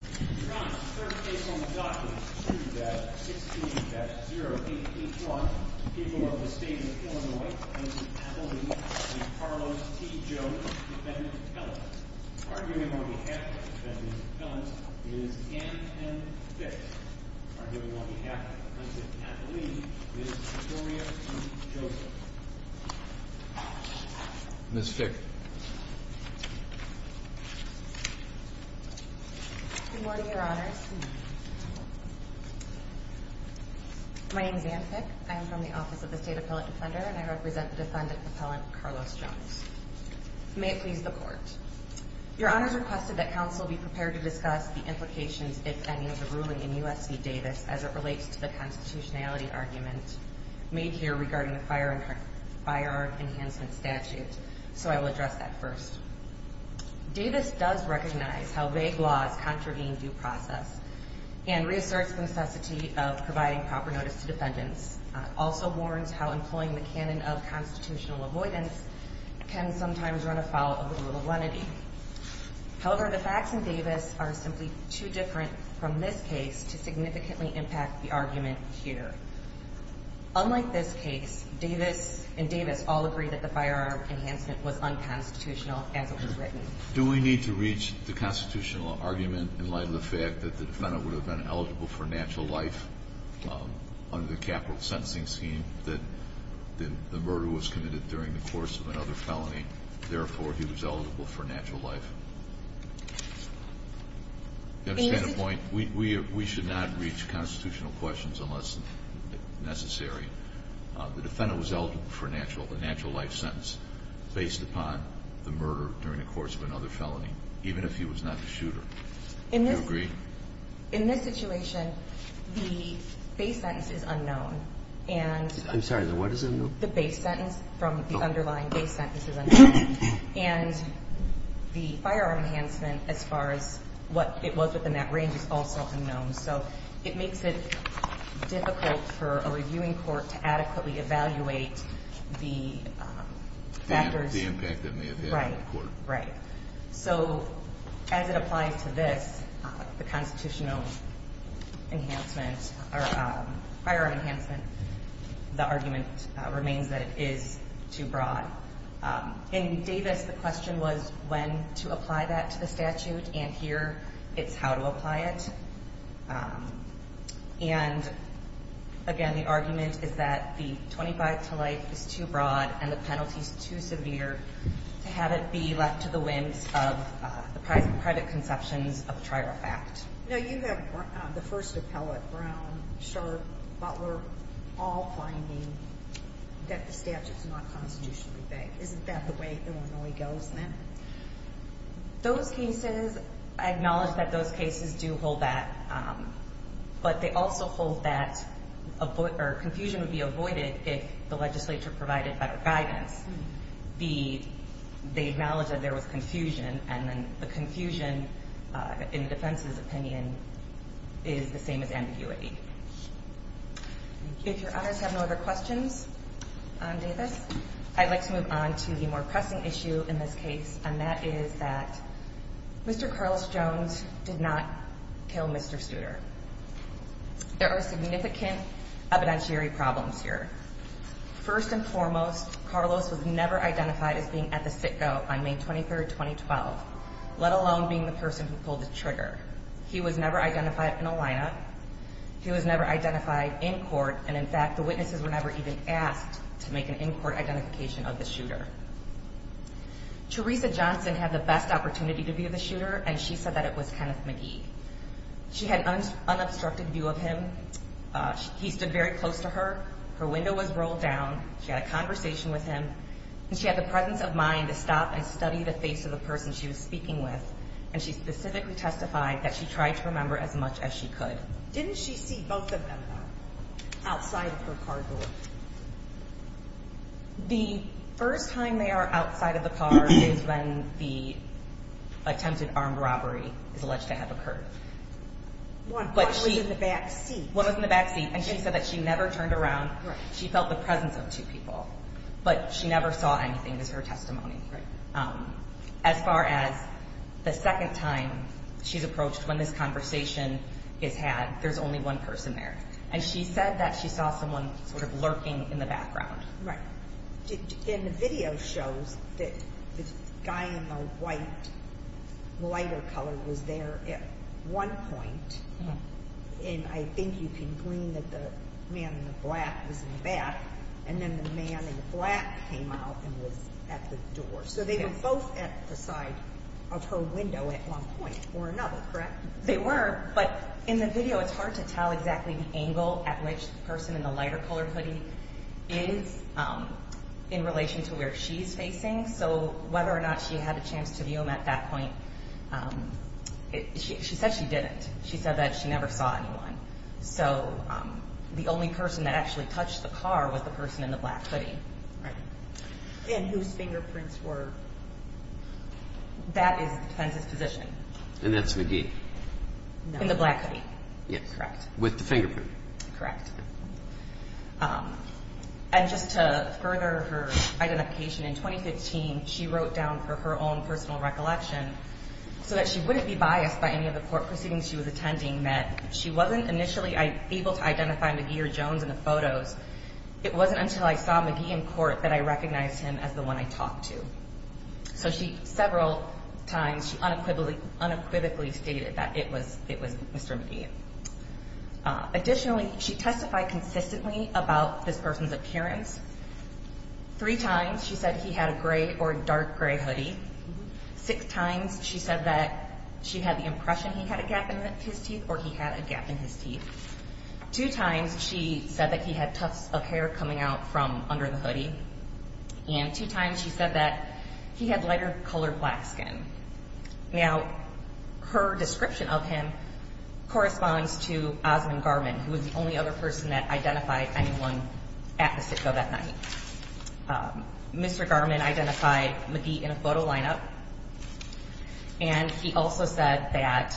Ron, third case on the docket is 2-16-0881, people of the state of Illinois, President Pat Lee v. Carlos T. Jones, Defendant Appellant. Arguing on behalf of the Defendant Appellant is Ann M. Fick. Arguing on behalf of President Pat Lee is Victoria T. Joseph. Ms. Fick. Good morning, Your Honors. My name is Ann Fick. I am from the Office of the State Appellant Defender and I represent the Defendant Appellant, Carlos Jones. May it please the Court. Your Honors requested that counsel be prepared to discuss the implications, if any, of the ruling in U.S. v. Davis as it relates to the constitutionality argument made here regarding the Fire Enhancement Statute, so I will address that first. Davis does recognize how vague laws contravene due process and reasserts the necessity of providing proper notice to defendants, also warns how employing the canon of constitutional avoidance can sometimes run afoul of the rule of lenity. However, the facts in Davis are simply too different from this case to significantly impact the argument here. Unlike this case, Davis and Davis all agree that the firearm enhancement was unconstitutional as it was written. Do we need to reach the constitutional argument in light of the fact that the defendant would have been eligible for natural life under the capital sentencing scheme, that the murder was committed during the course of another felony, therefore he was eligible for natural life? Do you understand the point? We should not reach constitutional questions unless necessary. The defendant was eligible for a natural life sentence based upon the murder during the course of another felony, even if he was not the shooter. Do you agree? In this situation, the base sentence is unknown. I'm sorry, the what is unknown? The base sentence from the underlying base sentence is unknown. And the firearm enhancement, as far as what it was within that range, is also unknown. So it makes it difficult for a reviewing court to adequately evaluate the factors. The impact it may have had on the court. So as it applies to this, the constitutional enhancement or firearm enhancement, the argument remains that it is too broad. In Davis, the question was when to apply that to the statute. And here it's how to apply it. And, again, the argument is that the 25 to life is too broad and the penalty is too severe to have it be left to the whims of the private conceptions of a trial fact. Now, you have the first appellate, Brown, Sharp, Butler, all finding that the statute is not constitutionally vague. Isn't that the way Illinois goes then? Those cases, I acknowledge that those cases do hold that. But they also hold that confusion would be avoided if the legislature provided better guidance. They acknowledge that there was confusion. And then the confusion, in the defense's opinion, is the same as ambiguity. If your honors have no other questions on Davis, I'd like to move on to the more pressing issue in this case. And that is that Mr. Carlos Jones did not kill Mr. Studer. There are significant evidentiary problems here. First and foremost, Carlos was never identified as being at the sitco on May 23, 2012, let alone being the person who pulled the trigger. He was never identified in a lineup. He was never identified in court. And, in fact, the witnesses were never even asked to make an in-court identification of the shooter. Teresa Johnson had the best opportunity to view the shooter, and she said that it was Kenneth McGee. She had an unobstructed view of him. He stood very close to her. Her window was rolled down. She had a conversation with him. And she had the presence of mind to stop and study the face of the person she was speaking with. And she specifically testified that she tried to remember as much as she could. Didn't she see both of them outside of her car door? The first time they are outside of the car is when the attempted armed robbery is alleged to have occurred. One was in the back seat. One was in the back seat, and she said that she never turned around. She felt the presence of two people. But she never saw anything, is her testimony. As far as the second time she's approached when this conversation is had, there's only one person there. And she said that she saw someone sort of lurking in the background. Right. And the video shows that the guy in the white lighter color was there at one point. And I think you can glean that the man in the black was in the back. And then the man in black came out and was at the door. So they were both at the side of her window at one point or another, correct? They were. But in the video, it's hard to tell exactly the angle at which the person in the lighter color hoodie is in relation to where she's facing. So whether or not she had a chance to view him at that point, she said she didn't. She said that she never saw anyone. So the only person that actually touched the car was the person in the black hoodie. Right. And whose fingerprints were? That is the defense's position. And that's McGee. In the black hoodie. Yes. Correct. With the fingerprint. Correct. And just to further her identification, in 2015, she wrote down for her own personal recollection, so that she wouldn't be biased by any of the court proceedings she was attending, that she wasn't initially able to identify McGee or Jones in the photos. It wasn't until I saw McGee in court that I recognized him as the one I talked to. So several times she unequivocally stated that it was Mr. McGee. Additionally, she testified consistently about this person's appearance. Three times she said he had a gray or dark gray hoodie. Six times she said that she had the impression he had a gap in his teeth or he had a gap in his teeth. Two times she said that he had tufts of hair coming out from under the hoodie. And two times she said that he had lighter colored black skin. Now, her description of him corresponds to Osmond Garman, who was the only other person that identified anyone at the sitco that night. Mr. Garman identified McGee in a photo lineup. And he also said that,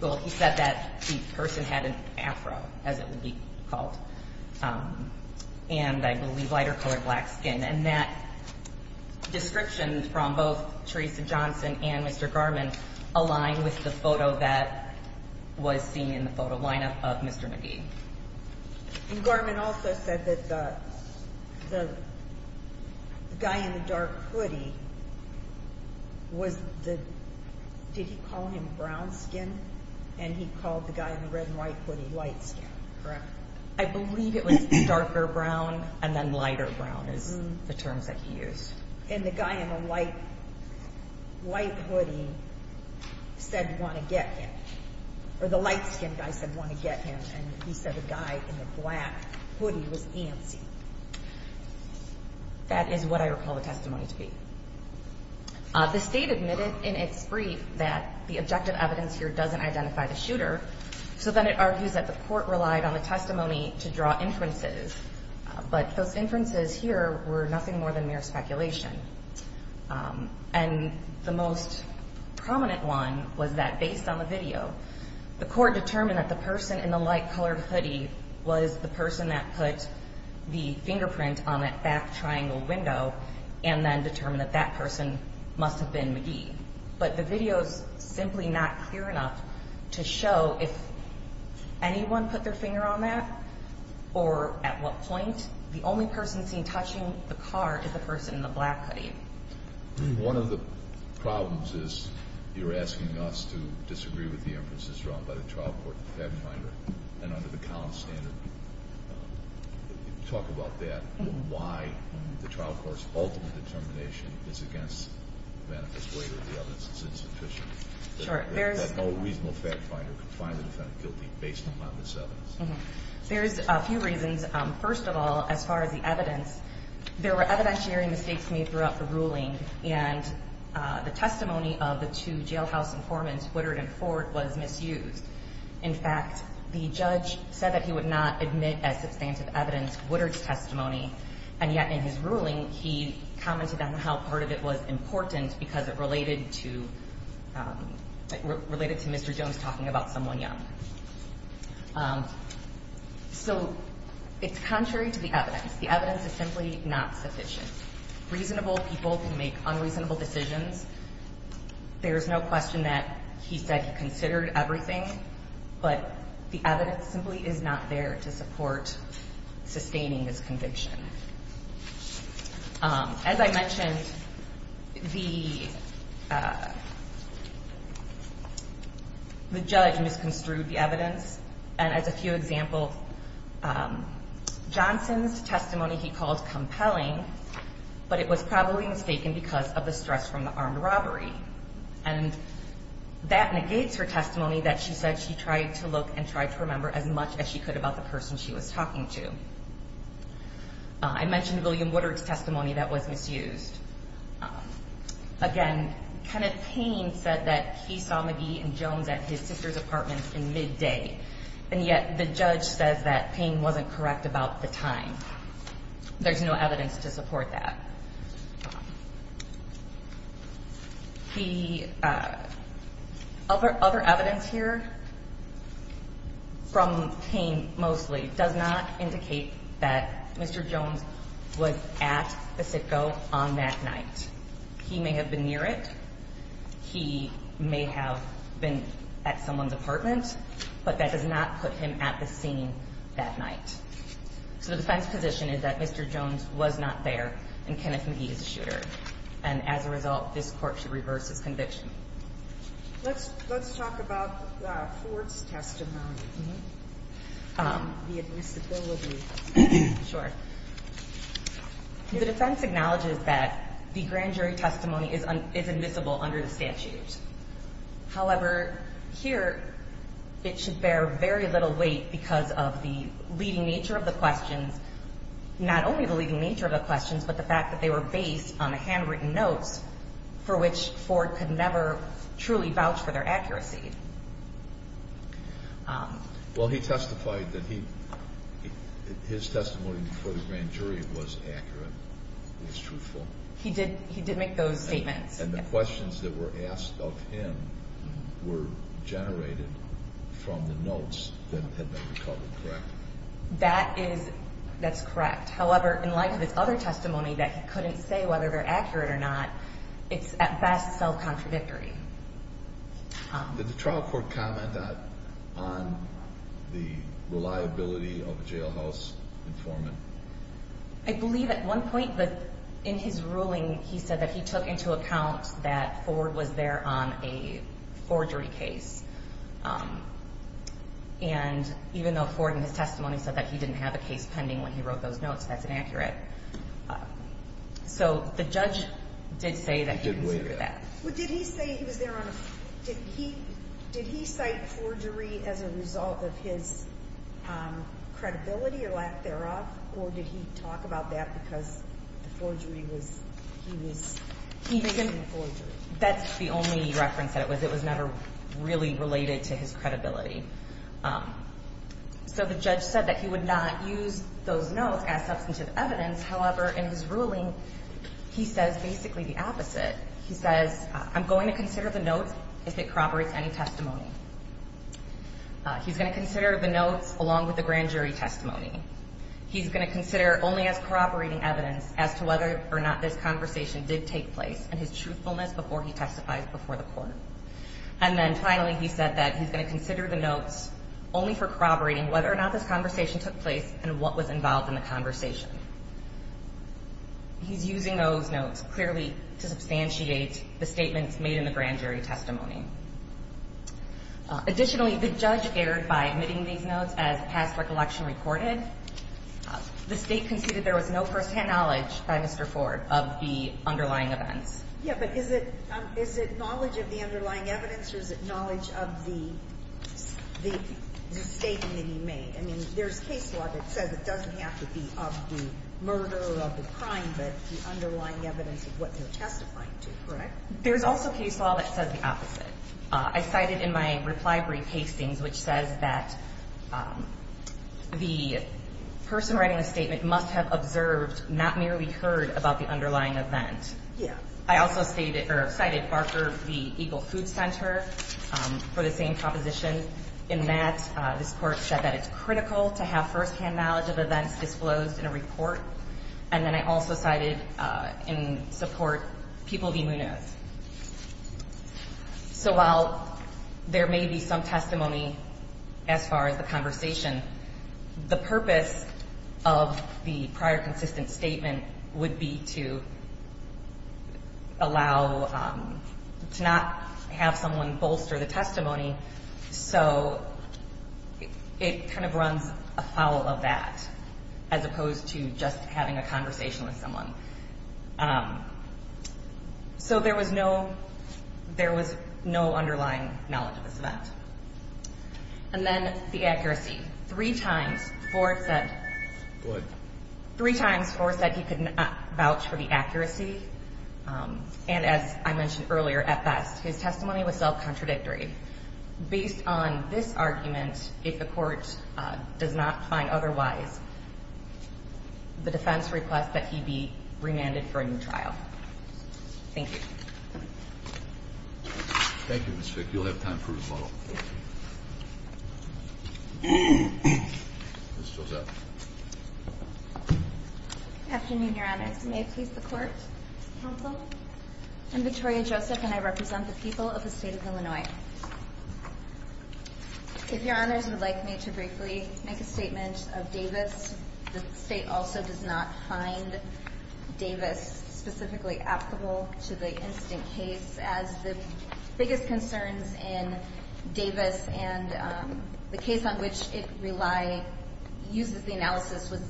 well, he said that the person had an afro, as it would be called. And I believe lighter colored black skin. And that description from both Teresa Johnson and Mr. Garman aligned with the photo that was seen in the photo lineup of Mr. McGee. And Garman also said that the guy in the dark hoodie was the, did he call him brown skin? And he called the guy in the red and white hoodie white skin. Correct. I believe it was darker brown and then lighter brown is the terms that he used. And the guy in the white hoodie said want to get him. Or the light skinned guy said want to get him. And he said the guy in the black hoodie was antsy. That is what I recall the testimony to be. The state admitted in its brief that the objective evidence here doesn't identify the shooter. So then it argues that the court relied on the testimony to draw inferences. But those inferences here were nothing more than mere speculation. And the most prominent one was that based on the video, the court determined that the person in the light colored hoodie was the person that put the fingerprint on that back triangle window. And then determined that that person must have been McGee. But the video is simply not clear enough to show if anyone put their finger on that or at what point. The only person seen touching the car is the person in the black hoodie. One of the problems is you're asking us to disagree with the inferences drawn by the trial court and under the Collins standard. Talk about that. Why the trial court's ultimate determination is against the manifest waiver of the evidence is insufficient. Sure. There's no reasonable fact finder can find the defendant guilty based on this evidence. There's a few reasons. First of all, as far as the evidence, there were evidentiary mistakes made throughout the ruling. And the testimony of the two jailhouse informants, Woodard and Ford, was misused. In fact, the judge said that he would not admit as substantive evidence Woodard's testimony. And yet in his ruling, he commented on how part of it was important because it related to Mr. Jones talking about someone young. So it's contrary to the evidence. The evidence is simply not sufficient. Reasonable people can make unreasonable decisions. There's no question that he said he considered everything. But the evidence simply is not there to support sustaining this conviction. As I mentioned, the judge misconstrued the evidence. And as a few examples, Johnson's testimony he called compelling, but it was probably mistaken because of the stress from the armed robbery. And that negates her testimony that she said she tried to look and tried to remember as much as she could about the person she was talking to. I mentioned William Woodard's testimony that was misused. Again, Kenneth Payne said that he saw McGee and Jones at his sister's apartment in midday. And yet the judge says that Payne wasn't correct about the time. There's no evidence to support that. He other other evidence here. From Payne, mostly does not indicate that Mr. Jones was at the Citgo on that night. He may have been near it. He may have been at someone's apartment, but that does not put him at the scene that night. So the defense position is that Mr. Jones was not there and Kenneth McGee is the shooter. And as a result, this court should reverse his conviction. Let's talk about Ford's testimony. The admissibility. Sure. The defense acknowledges that the grand jury testimony is admissible under the statute. However, here it should bear very little weight because of the leading nature of the questions, not only the leading nature of the questions, but the fact that they were based on the handwritten notes for which Ford could never truly vouch for their accuracy. Well, he testified that his testimony before the grand jury was accurate. It was truthful. He did make those statements. And the questions that were asked of him were generated from the notes that had been recovered, correct? That's correct. However, in light of his other testimony that he couldn't say whether they're accurate or not, it's at best self-contradictory. Did the trial court comment on the reliability of a jailhouse informant? I believe at one point in his ruling he said that he took into account that Ford was there on a forgery case. And even though Ford in his testimony said that he didn't have a case pending when he wrote those notes, that's inaccurate. So the judge did say that he considered that. Well, did he say he was there on a forgery case? Did he cite forgery as a result of his credibility or lack thereof, or did he talk about that because the forgery was he was doing forgery? That's the only reference that it was. It was never really related to his credibility. So the judge said that he would not use those notes as substantive evidence. However, in his ruling, he says basically the opposite. He says, I'm going to consider the notes if it corroborates any testimony. He's going to consider the notes along with the grand jury testimony. He's going to consider only as corroborating evidence as to whether or not this conversation did take place and his truthfulness before he testifies before the court. And then finally, he said that he's going to consider the notes only for corroborating whether or not this conversation took place and what was involved in the conversation. He's using those notes clearly to substantiate the statements made in the grand jury testimony. Additionally, the judge erred by admitting these notes as past recollection recorded. The State conceded there was no firsthand knowledge by Mr. Ford of the underlying events. Yeah, but is it knowledge of the underlying evidence or is it knowledge of the statement that he made? I mean, there's case law that says it doesn't have to be of the murder or of the crime, but the underlying evidence of what they're testifying to, correct? There's also case law that says the opposite. I cited in my reply brief Hastings, which says that the person writing the statement must have observed, not merely heard, about the underlying event. Yeah. I also cited Barker v. Eagle Food Center for the same proposition, in that this Court said that it's critical to have firsthand knowledge of events disclosed in a report. And then I also cited in support Peoples v. Munoz. So while there may be some testimony as far as the conversation, the purpose of the prior consistent statement would be to allow to not have someone bolster the testimony so it kind of runs afoul of that as opposed to just having a conversation with someone. So there was no underlying knowledge of this event. And then the accuracy. Three times Ford said he could not vouch for the accuracy. And as I mentioned earlier, at best, his testimony was self-contradictory. Based on this argument, if the Court does not find otherwise, the defense requests that he be remanded for a new trial. Thank you. Thank you, Ms. Fick. You'll have time for rebuttal. Ms. Joseph. Afternoon, Your Honors. May it please the Court, Counsel? I'm Victoria Joseph, and I represent the people of the State of Illinois. If Your Honors would like me to briefly make a statement of Davis, the State also does not find Davis specifically applicable to the incident case as the biggest concerns in Davis and the case on which it relies uses the analysis with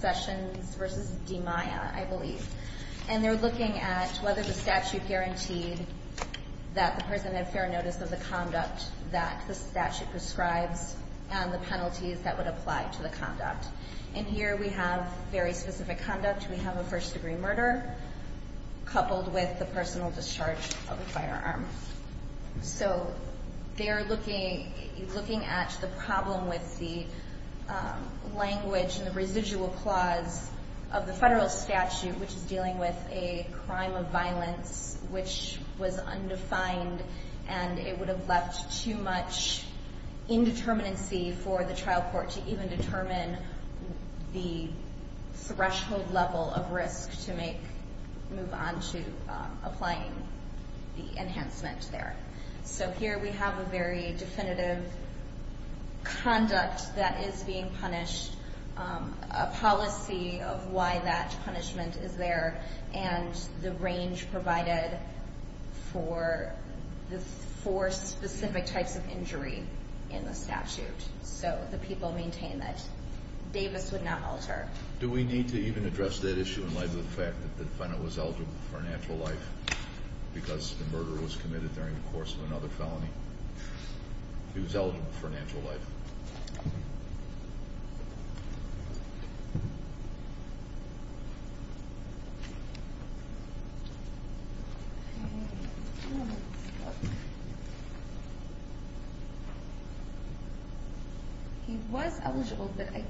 Sessions v. DiMaia, I believe. And they're looking at whether the statute guaranteed that the person had fair notice of the conduct that the statute prescribes and the penalties that would apply to the conduct. And here we have very specific conduct. We have a first-degree murder coupled with the personal discharge of a firearm. So they're looking at the problem with the language and the residual clause of the federal statute, which is dealing with a crime of violence which was undefined, and it would have left too much indeterminacy for the trial court to even determine the threshold level of risk to move on to applying the enhancement there. So here we have a very definitive conduct that is being punished, a policy of why that punishment is there, and the range provided for the four specific types of injury in the statute. So the people maintain that Davis would not alter. Do we need to even address that issue in light of the fact that the defendant was eligible for a natural life because the murder was committed during the course of another felony? He was eligible for a natural life. He was eligible, but what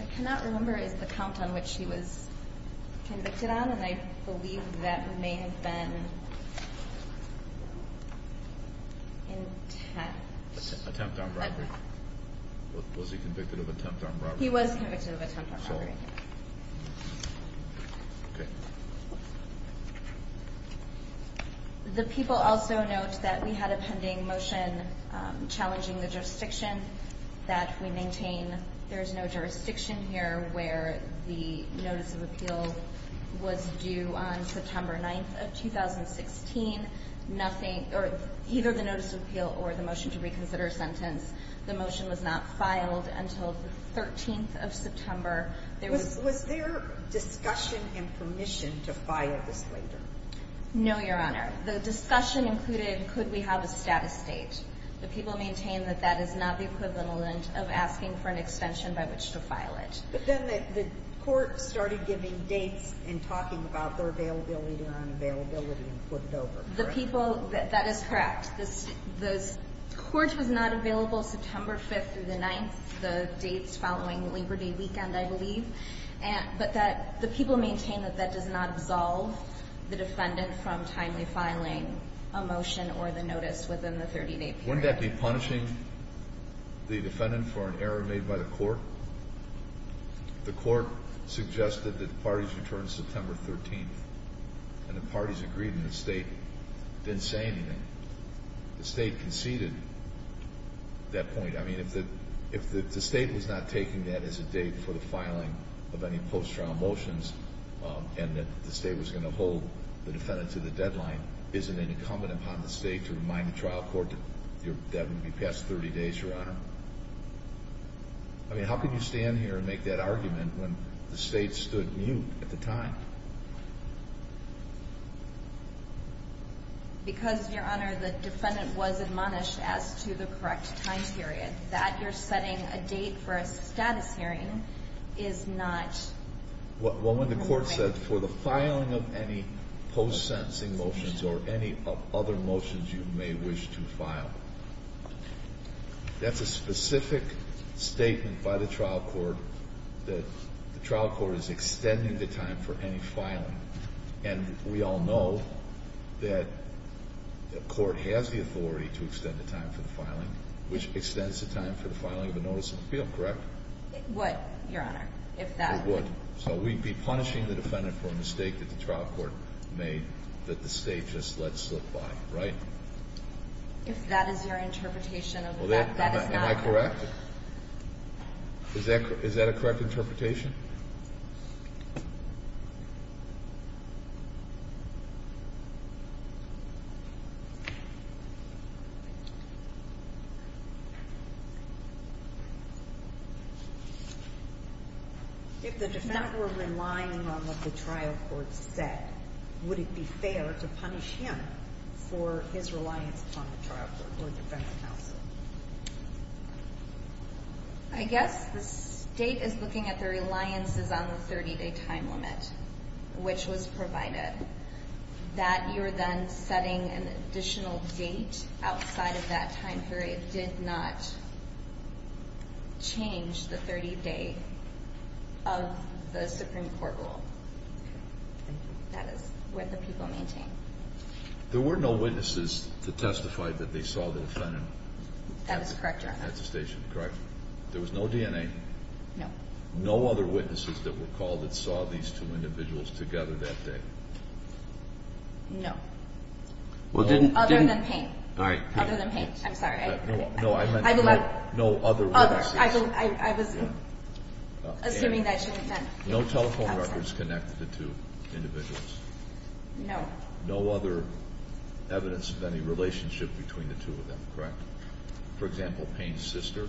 I cannot remember is the count on which he was convicted on, and I believe that may have been intent. Attempt on robbery. Was he convicted of attempt on robbery? He was convicted of attempt on robbery. Okay. The people also note that we had a pending motion challenging the jurisdiction that we maintain. There is no jurisdiction here where the notice of appeal was due on September 9th of 2016, either the notice of appeal or the motion to reconsider a sentence. The motion was not filed until the 13th of September. Was there discussion and permission to file this later? No, Your Honor. The discussion included could we have a status date. The people maintain that that is not the equivalent of asking for an extension by which to file it. But then the court started giving dates and talking about their availability or unavailability and put it over, correct? That is correct. The court was not available September 5th through the 9th, the dates following Liberty Weekend, I believe, but the people maintain that that does not absolve the defendant from timely filing a motion or the notice within the 30-day period. Wouldn't that be punishing the defendant for an error made by the court? The court suggested that the parties return September 13th, and the parties agreed, and the state didn't say anything. The state conceded that point. I mean, if the state was not taking that as a date for the filing of any post-trial motions and that the state was going to hold the defendant to the deadline, is it incumbent upon the state to remind the trial court that that would be past 30 days, Your Honor? I mean, how could you stand here and make that argument when the state stood mute at the time? Because, Your Honor, the defendant was admonished as to the correct time period. That you're setting a date for a status hearing is not correct. Well, when the court said for the filing of any post-sentencing motions or any other motions you may wish to file, that's a specific statement by the trial court that the trial court is extending the time for any post-sentencing motions. And we all know that the court has the authority to extend the time for the filing, which extends the time for the filing of a notice of appeal, correct? It would, Your Honor. It would. So we'd be punishing the defendant for a mistake that the trial court made that the state just let slip by, right? If that is your interpretation of the fact that it's not. Am I correct? Is that a correct interpretation? If the defendant were relying on what the trial court said, would it be fair to punish him for his reliance upon the trial court or defense counsel? I guess the state is looking at the reliance on the defense counsel. Reliance is on the 30-day time limit, which was provided. That you're then setting an additional date outside of that time period did not change the 30-day of the Supreme Court rule. That is what the people maintain. There were no witnesses to testify that they saw the defendant at the station, correct? That is correct, Your Honor. There was no DNA? No. No other witnesses that were called that saw these two individuals together that day? No. Other than Payne. Other than Payne. I'm sorry. No other witnesses. I was assuming that she meant them. No telephone records connected the two individuals? No. No other evidence of any relationship between the two of them, correct? For example, Payne's sister?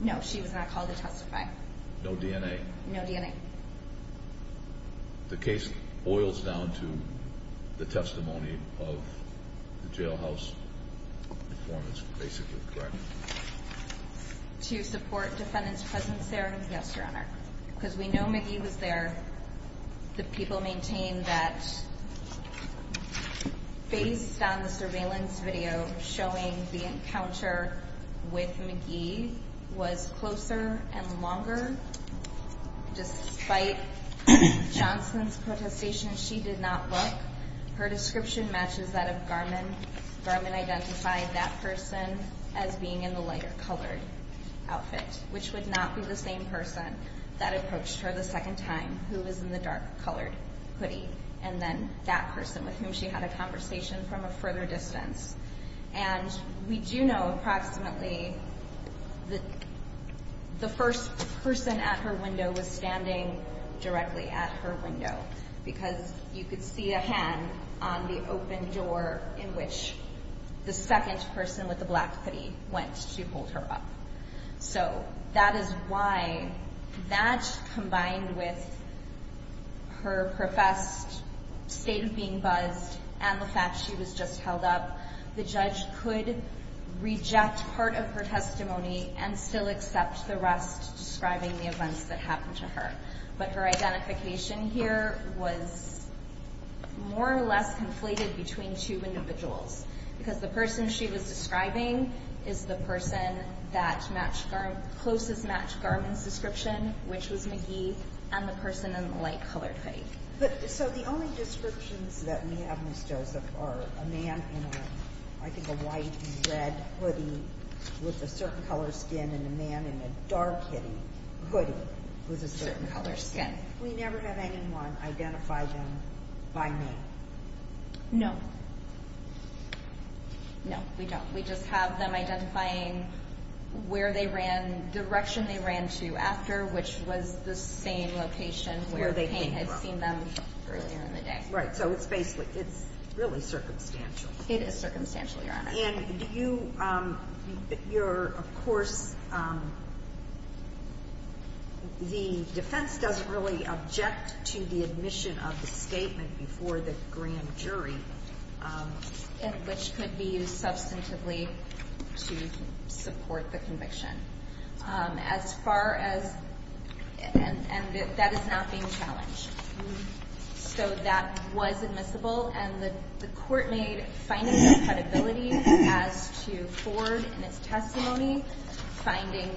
No, she was not called to testify. No DNA? No DNA. The case boils down to the testimony of the jailhouse informants, basically, correct? To support defendant's presence there? Yes, Your Honor. Because we know McGee was there. The people maintain that based on the surveillance video showing the encounter with McGee was closer and longer. Despite Johnson's protestations, she did not look. Her description matches that of Garmon. Garmon identified that person as being in the lighter-colored outfit, which would not be the same person that approached her the second time, who was in the dark-colored hoodie, and then that person with whom she had a conversation from a further distance. And we do know approximately that the first person at her window was standing directly at her window because you could see a hand on the open door in which the second person with the black hoodie went to hold her up. So that is why that, combined with her professed state of being buzzed and the fact she was just held up, the judge could reject part of her testimony and still accept the rest describing the events that happened to her. But her identification here was more or less conflated between two individuals because the person she was describing is the person that closest matched Garmon's description, which was McGee, and the person in the light-colored hoodie. But so the only descriptions that we have, Ms. Joseph, are a man in a, I think, a white and red hoodie with a certain color skin and a man in a dark-hitting hoodie with a certain color skin. We never have anyone identify them by name. No. No, we don't. We just have them identifying where they ran, direction they ran to after, which was the same location where Payne had seen them earlier in the day. Right. So it's basically, it's really circumstantial. It is circumstantial, Your Honor. And do you, your, of course, the defense doesn't really object to the admission of the statement before the grand jury. And which could be used substantively to support the conviction. As far as, and that is not being challenged. So that was admissible. And the court made findings of credibility as to Ford and his testimony, finding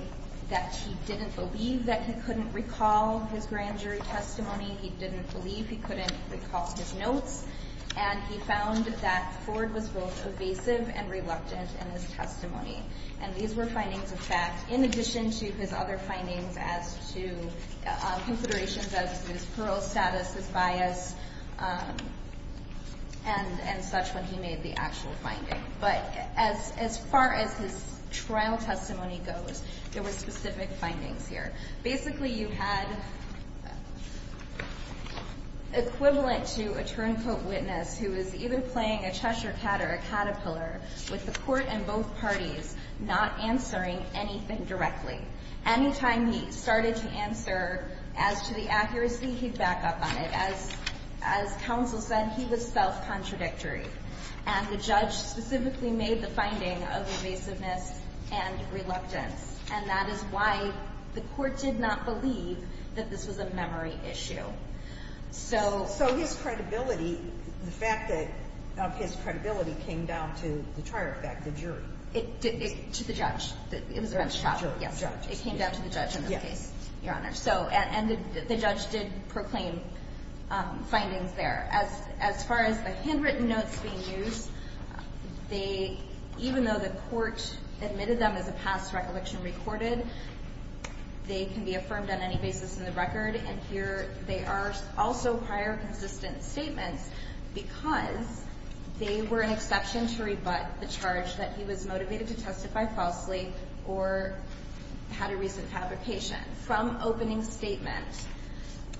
that he didn't believe that he couldn't recall his grand jury testimony. He didn't believe he couldn't recall his notes. And he found that Ford was both evasive and reluctant in his testimony. And these were findings of fact in addition to his other findings as to considerations of his parole status, his bias, and such when he made the actual finding. But as far as his trial testimony goes, there were specific findings here. Basically, you had equivalent to a turncoat witness who was either playing a Cheshire cat or a caterpillar with the court and both parties not answering anything directly. Any time he started to answer as to the accuracy, he'd back up on it. As counsel said, he was self-contradictory. And the judge specifically made the finding of evasiveness and reluctance. And that is why the court did not believe that this was a memory issue. So... So his credibility, the fact that his credibility came down to the trier effect, the jury. To the judge. It was a bench trial. Yes. It came down to the judge in this case, Your Honor. And the judge did proclaim findings there. As far as the handwritten notes being used, even though the court admitted them as a past recollection recorded, they can be affirmed on any basis in the record. And here they are also higher consistent statements because they were an exception to rebut the charge that he was motivated to testify falsely or had a recent fabrication. From opening statement,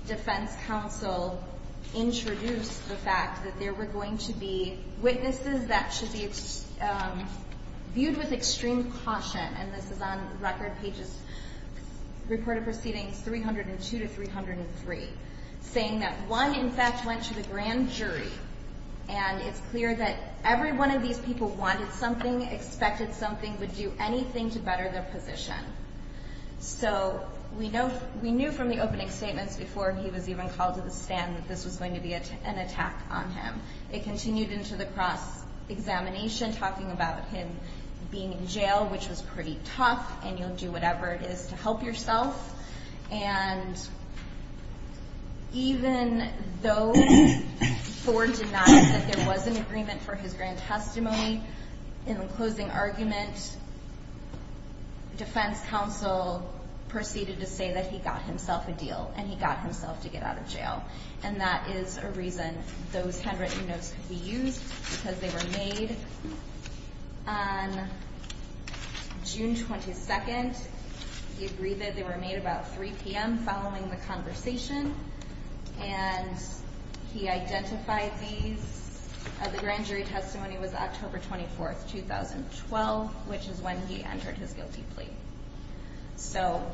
defense counsel introduced the fact that there were going to be witnesses that should be viewed with extreme caution. And this is on record, pages, reported proceedings 302 to 303. Saying that one, in fact, went to the grand jury. And it's clear that every one of these people wanted something, expected something, would do anything to better their position. So we knew from the opening statements before he was even called to the stand that this was going to be an attack on him. It continued into the cross-examination, talking about him being in jail, which was pretty tough, and you'll do whatever it is to help yourself. And even though Ford denied that there was an agreement for his grand testimony, in the closing argument, defense counsel proceeded to say that he got himself a deal and he got himself to get out of jail. And that is a reason those handwritten notes could be used because they were made on June 22nd. He agreed that they were made about 3 p.m. following the conversation. And he identified these. The grand jury testimony was October 24th, 2012, which is when he entered his guilty plea. So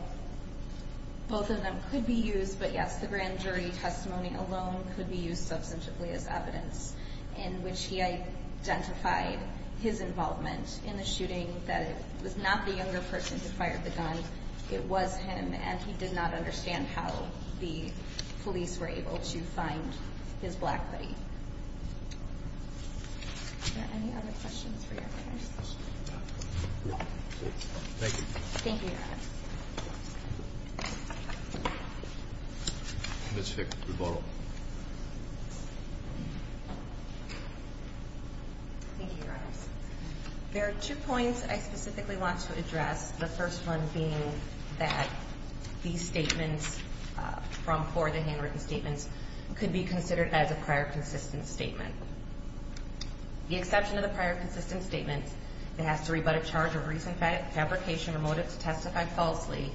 both of them could be used. But, yes, the grand jury testimony alone could be used substantively as evidence in which he identified his involvement in the shooting. That it was not the younger person who fired the gun. It was him. And he did not understand how the police were able to find his black buddy. Are there any other questions for your partners? No. Thank you. Thank you, Your Honors. Ms. Fick, we'll go to you. Thank you, Your Honors. There are two points I specifically want to address, the first one being that these statements from Ford, the handwritten statements, could be considered as a prior consistent statement. The exception to the prior consistent statement, it has to rebut a charge of recent fabrication or motive to testify falsely,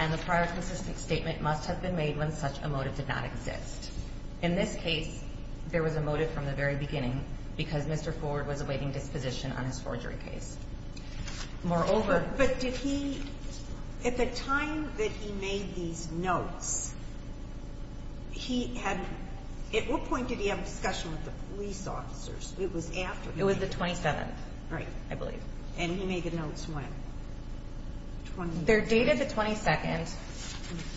and the prior consistent statement must have been made when such a motive did not exist. In this case, there was a motive from the very beginning because Mr. Ford was awaiting disposition on his forgery case. Moreover. But did he, at the time that he made these notes, he had, at what point did he have a discussion with the police officers? It was after. It was the 27th. Right. I believe. And he made the notes when? They're dated the 22nd.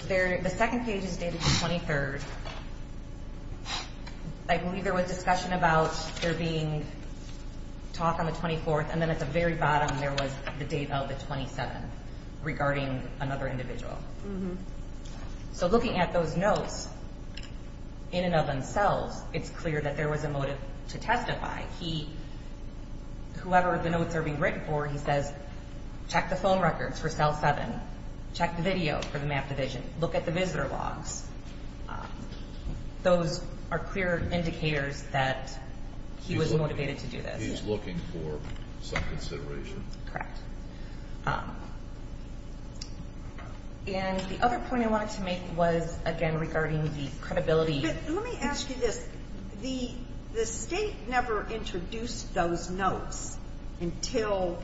The second page is dated the 23rd. I believe there was discussion about there being talk on the 24th, and then at the very bottom there was the date of the 27th, regarding another individual. So looking at those notes in and of themselves, it's clear that there was a motive to testify. He, whoever the notes are being written for, he says, check the phone records for cell 7, check the video for the map division, look at the visitor logs. Those are clear indicators that he was motivated to do this. He was looking for some consideration. Correct. And the other point I wanted to make was, again, regarding the credibility. Let me ask you this. The State never introduced those notes until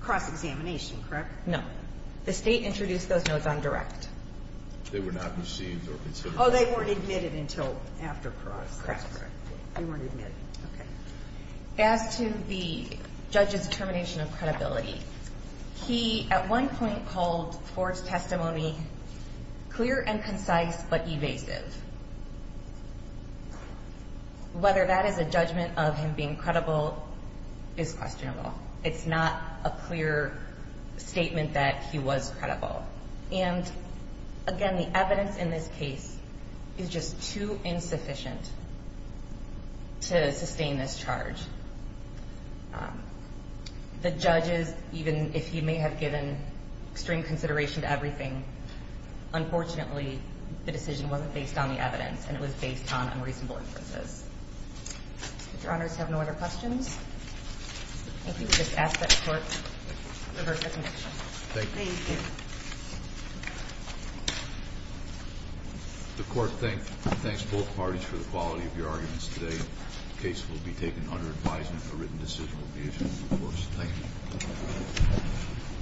cross-examination, correct? No. The State introduced those notes on direct. They were not received or considered. Oh, they weren't admitted until after cross. Correct. They weren't admitted. Okay. As to the judge's determination of credibility, he at one point called Ford's testimony clear and concise but evasive. Whether that is a judgment of him being credible is questionable. It's not a clear statement that he was credible. And, again, the evidence in this case is just too insufficient to sustain this charge. The judges, even if he may have given extreme consideration to everything, unfortunately the decision wasn't based on the evidence and it was based on unreasonable inferences. If Your Honors have no other questions, I think you can just ask that the Court revert the connection. Thank you. Thank you. The Court thanks both parties for the quality of your arguments today. The case will be taken under advisement. A written decision will be issued in due course. Thank you.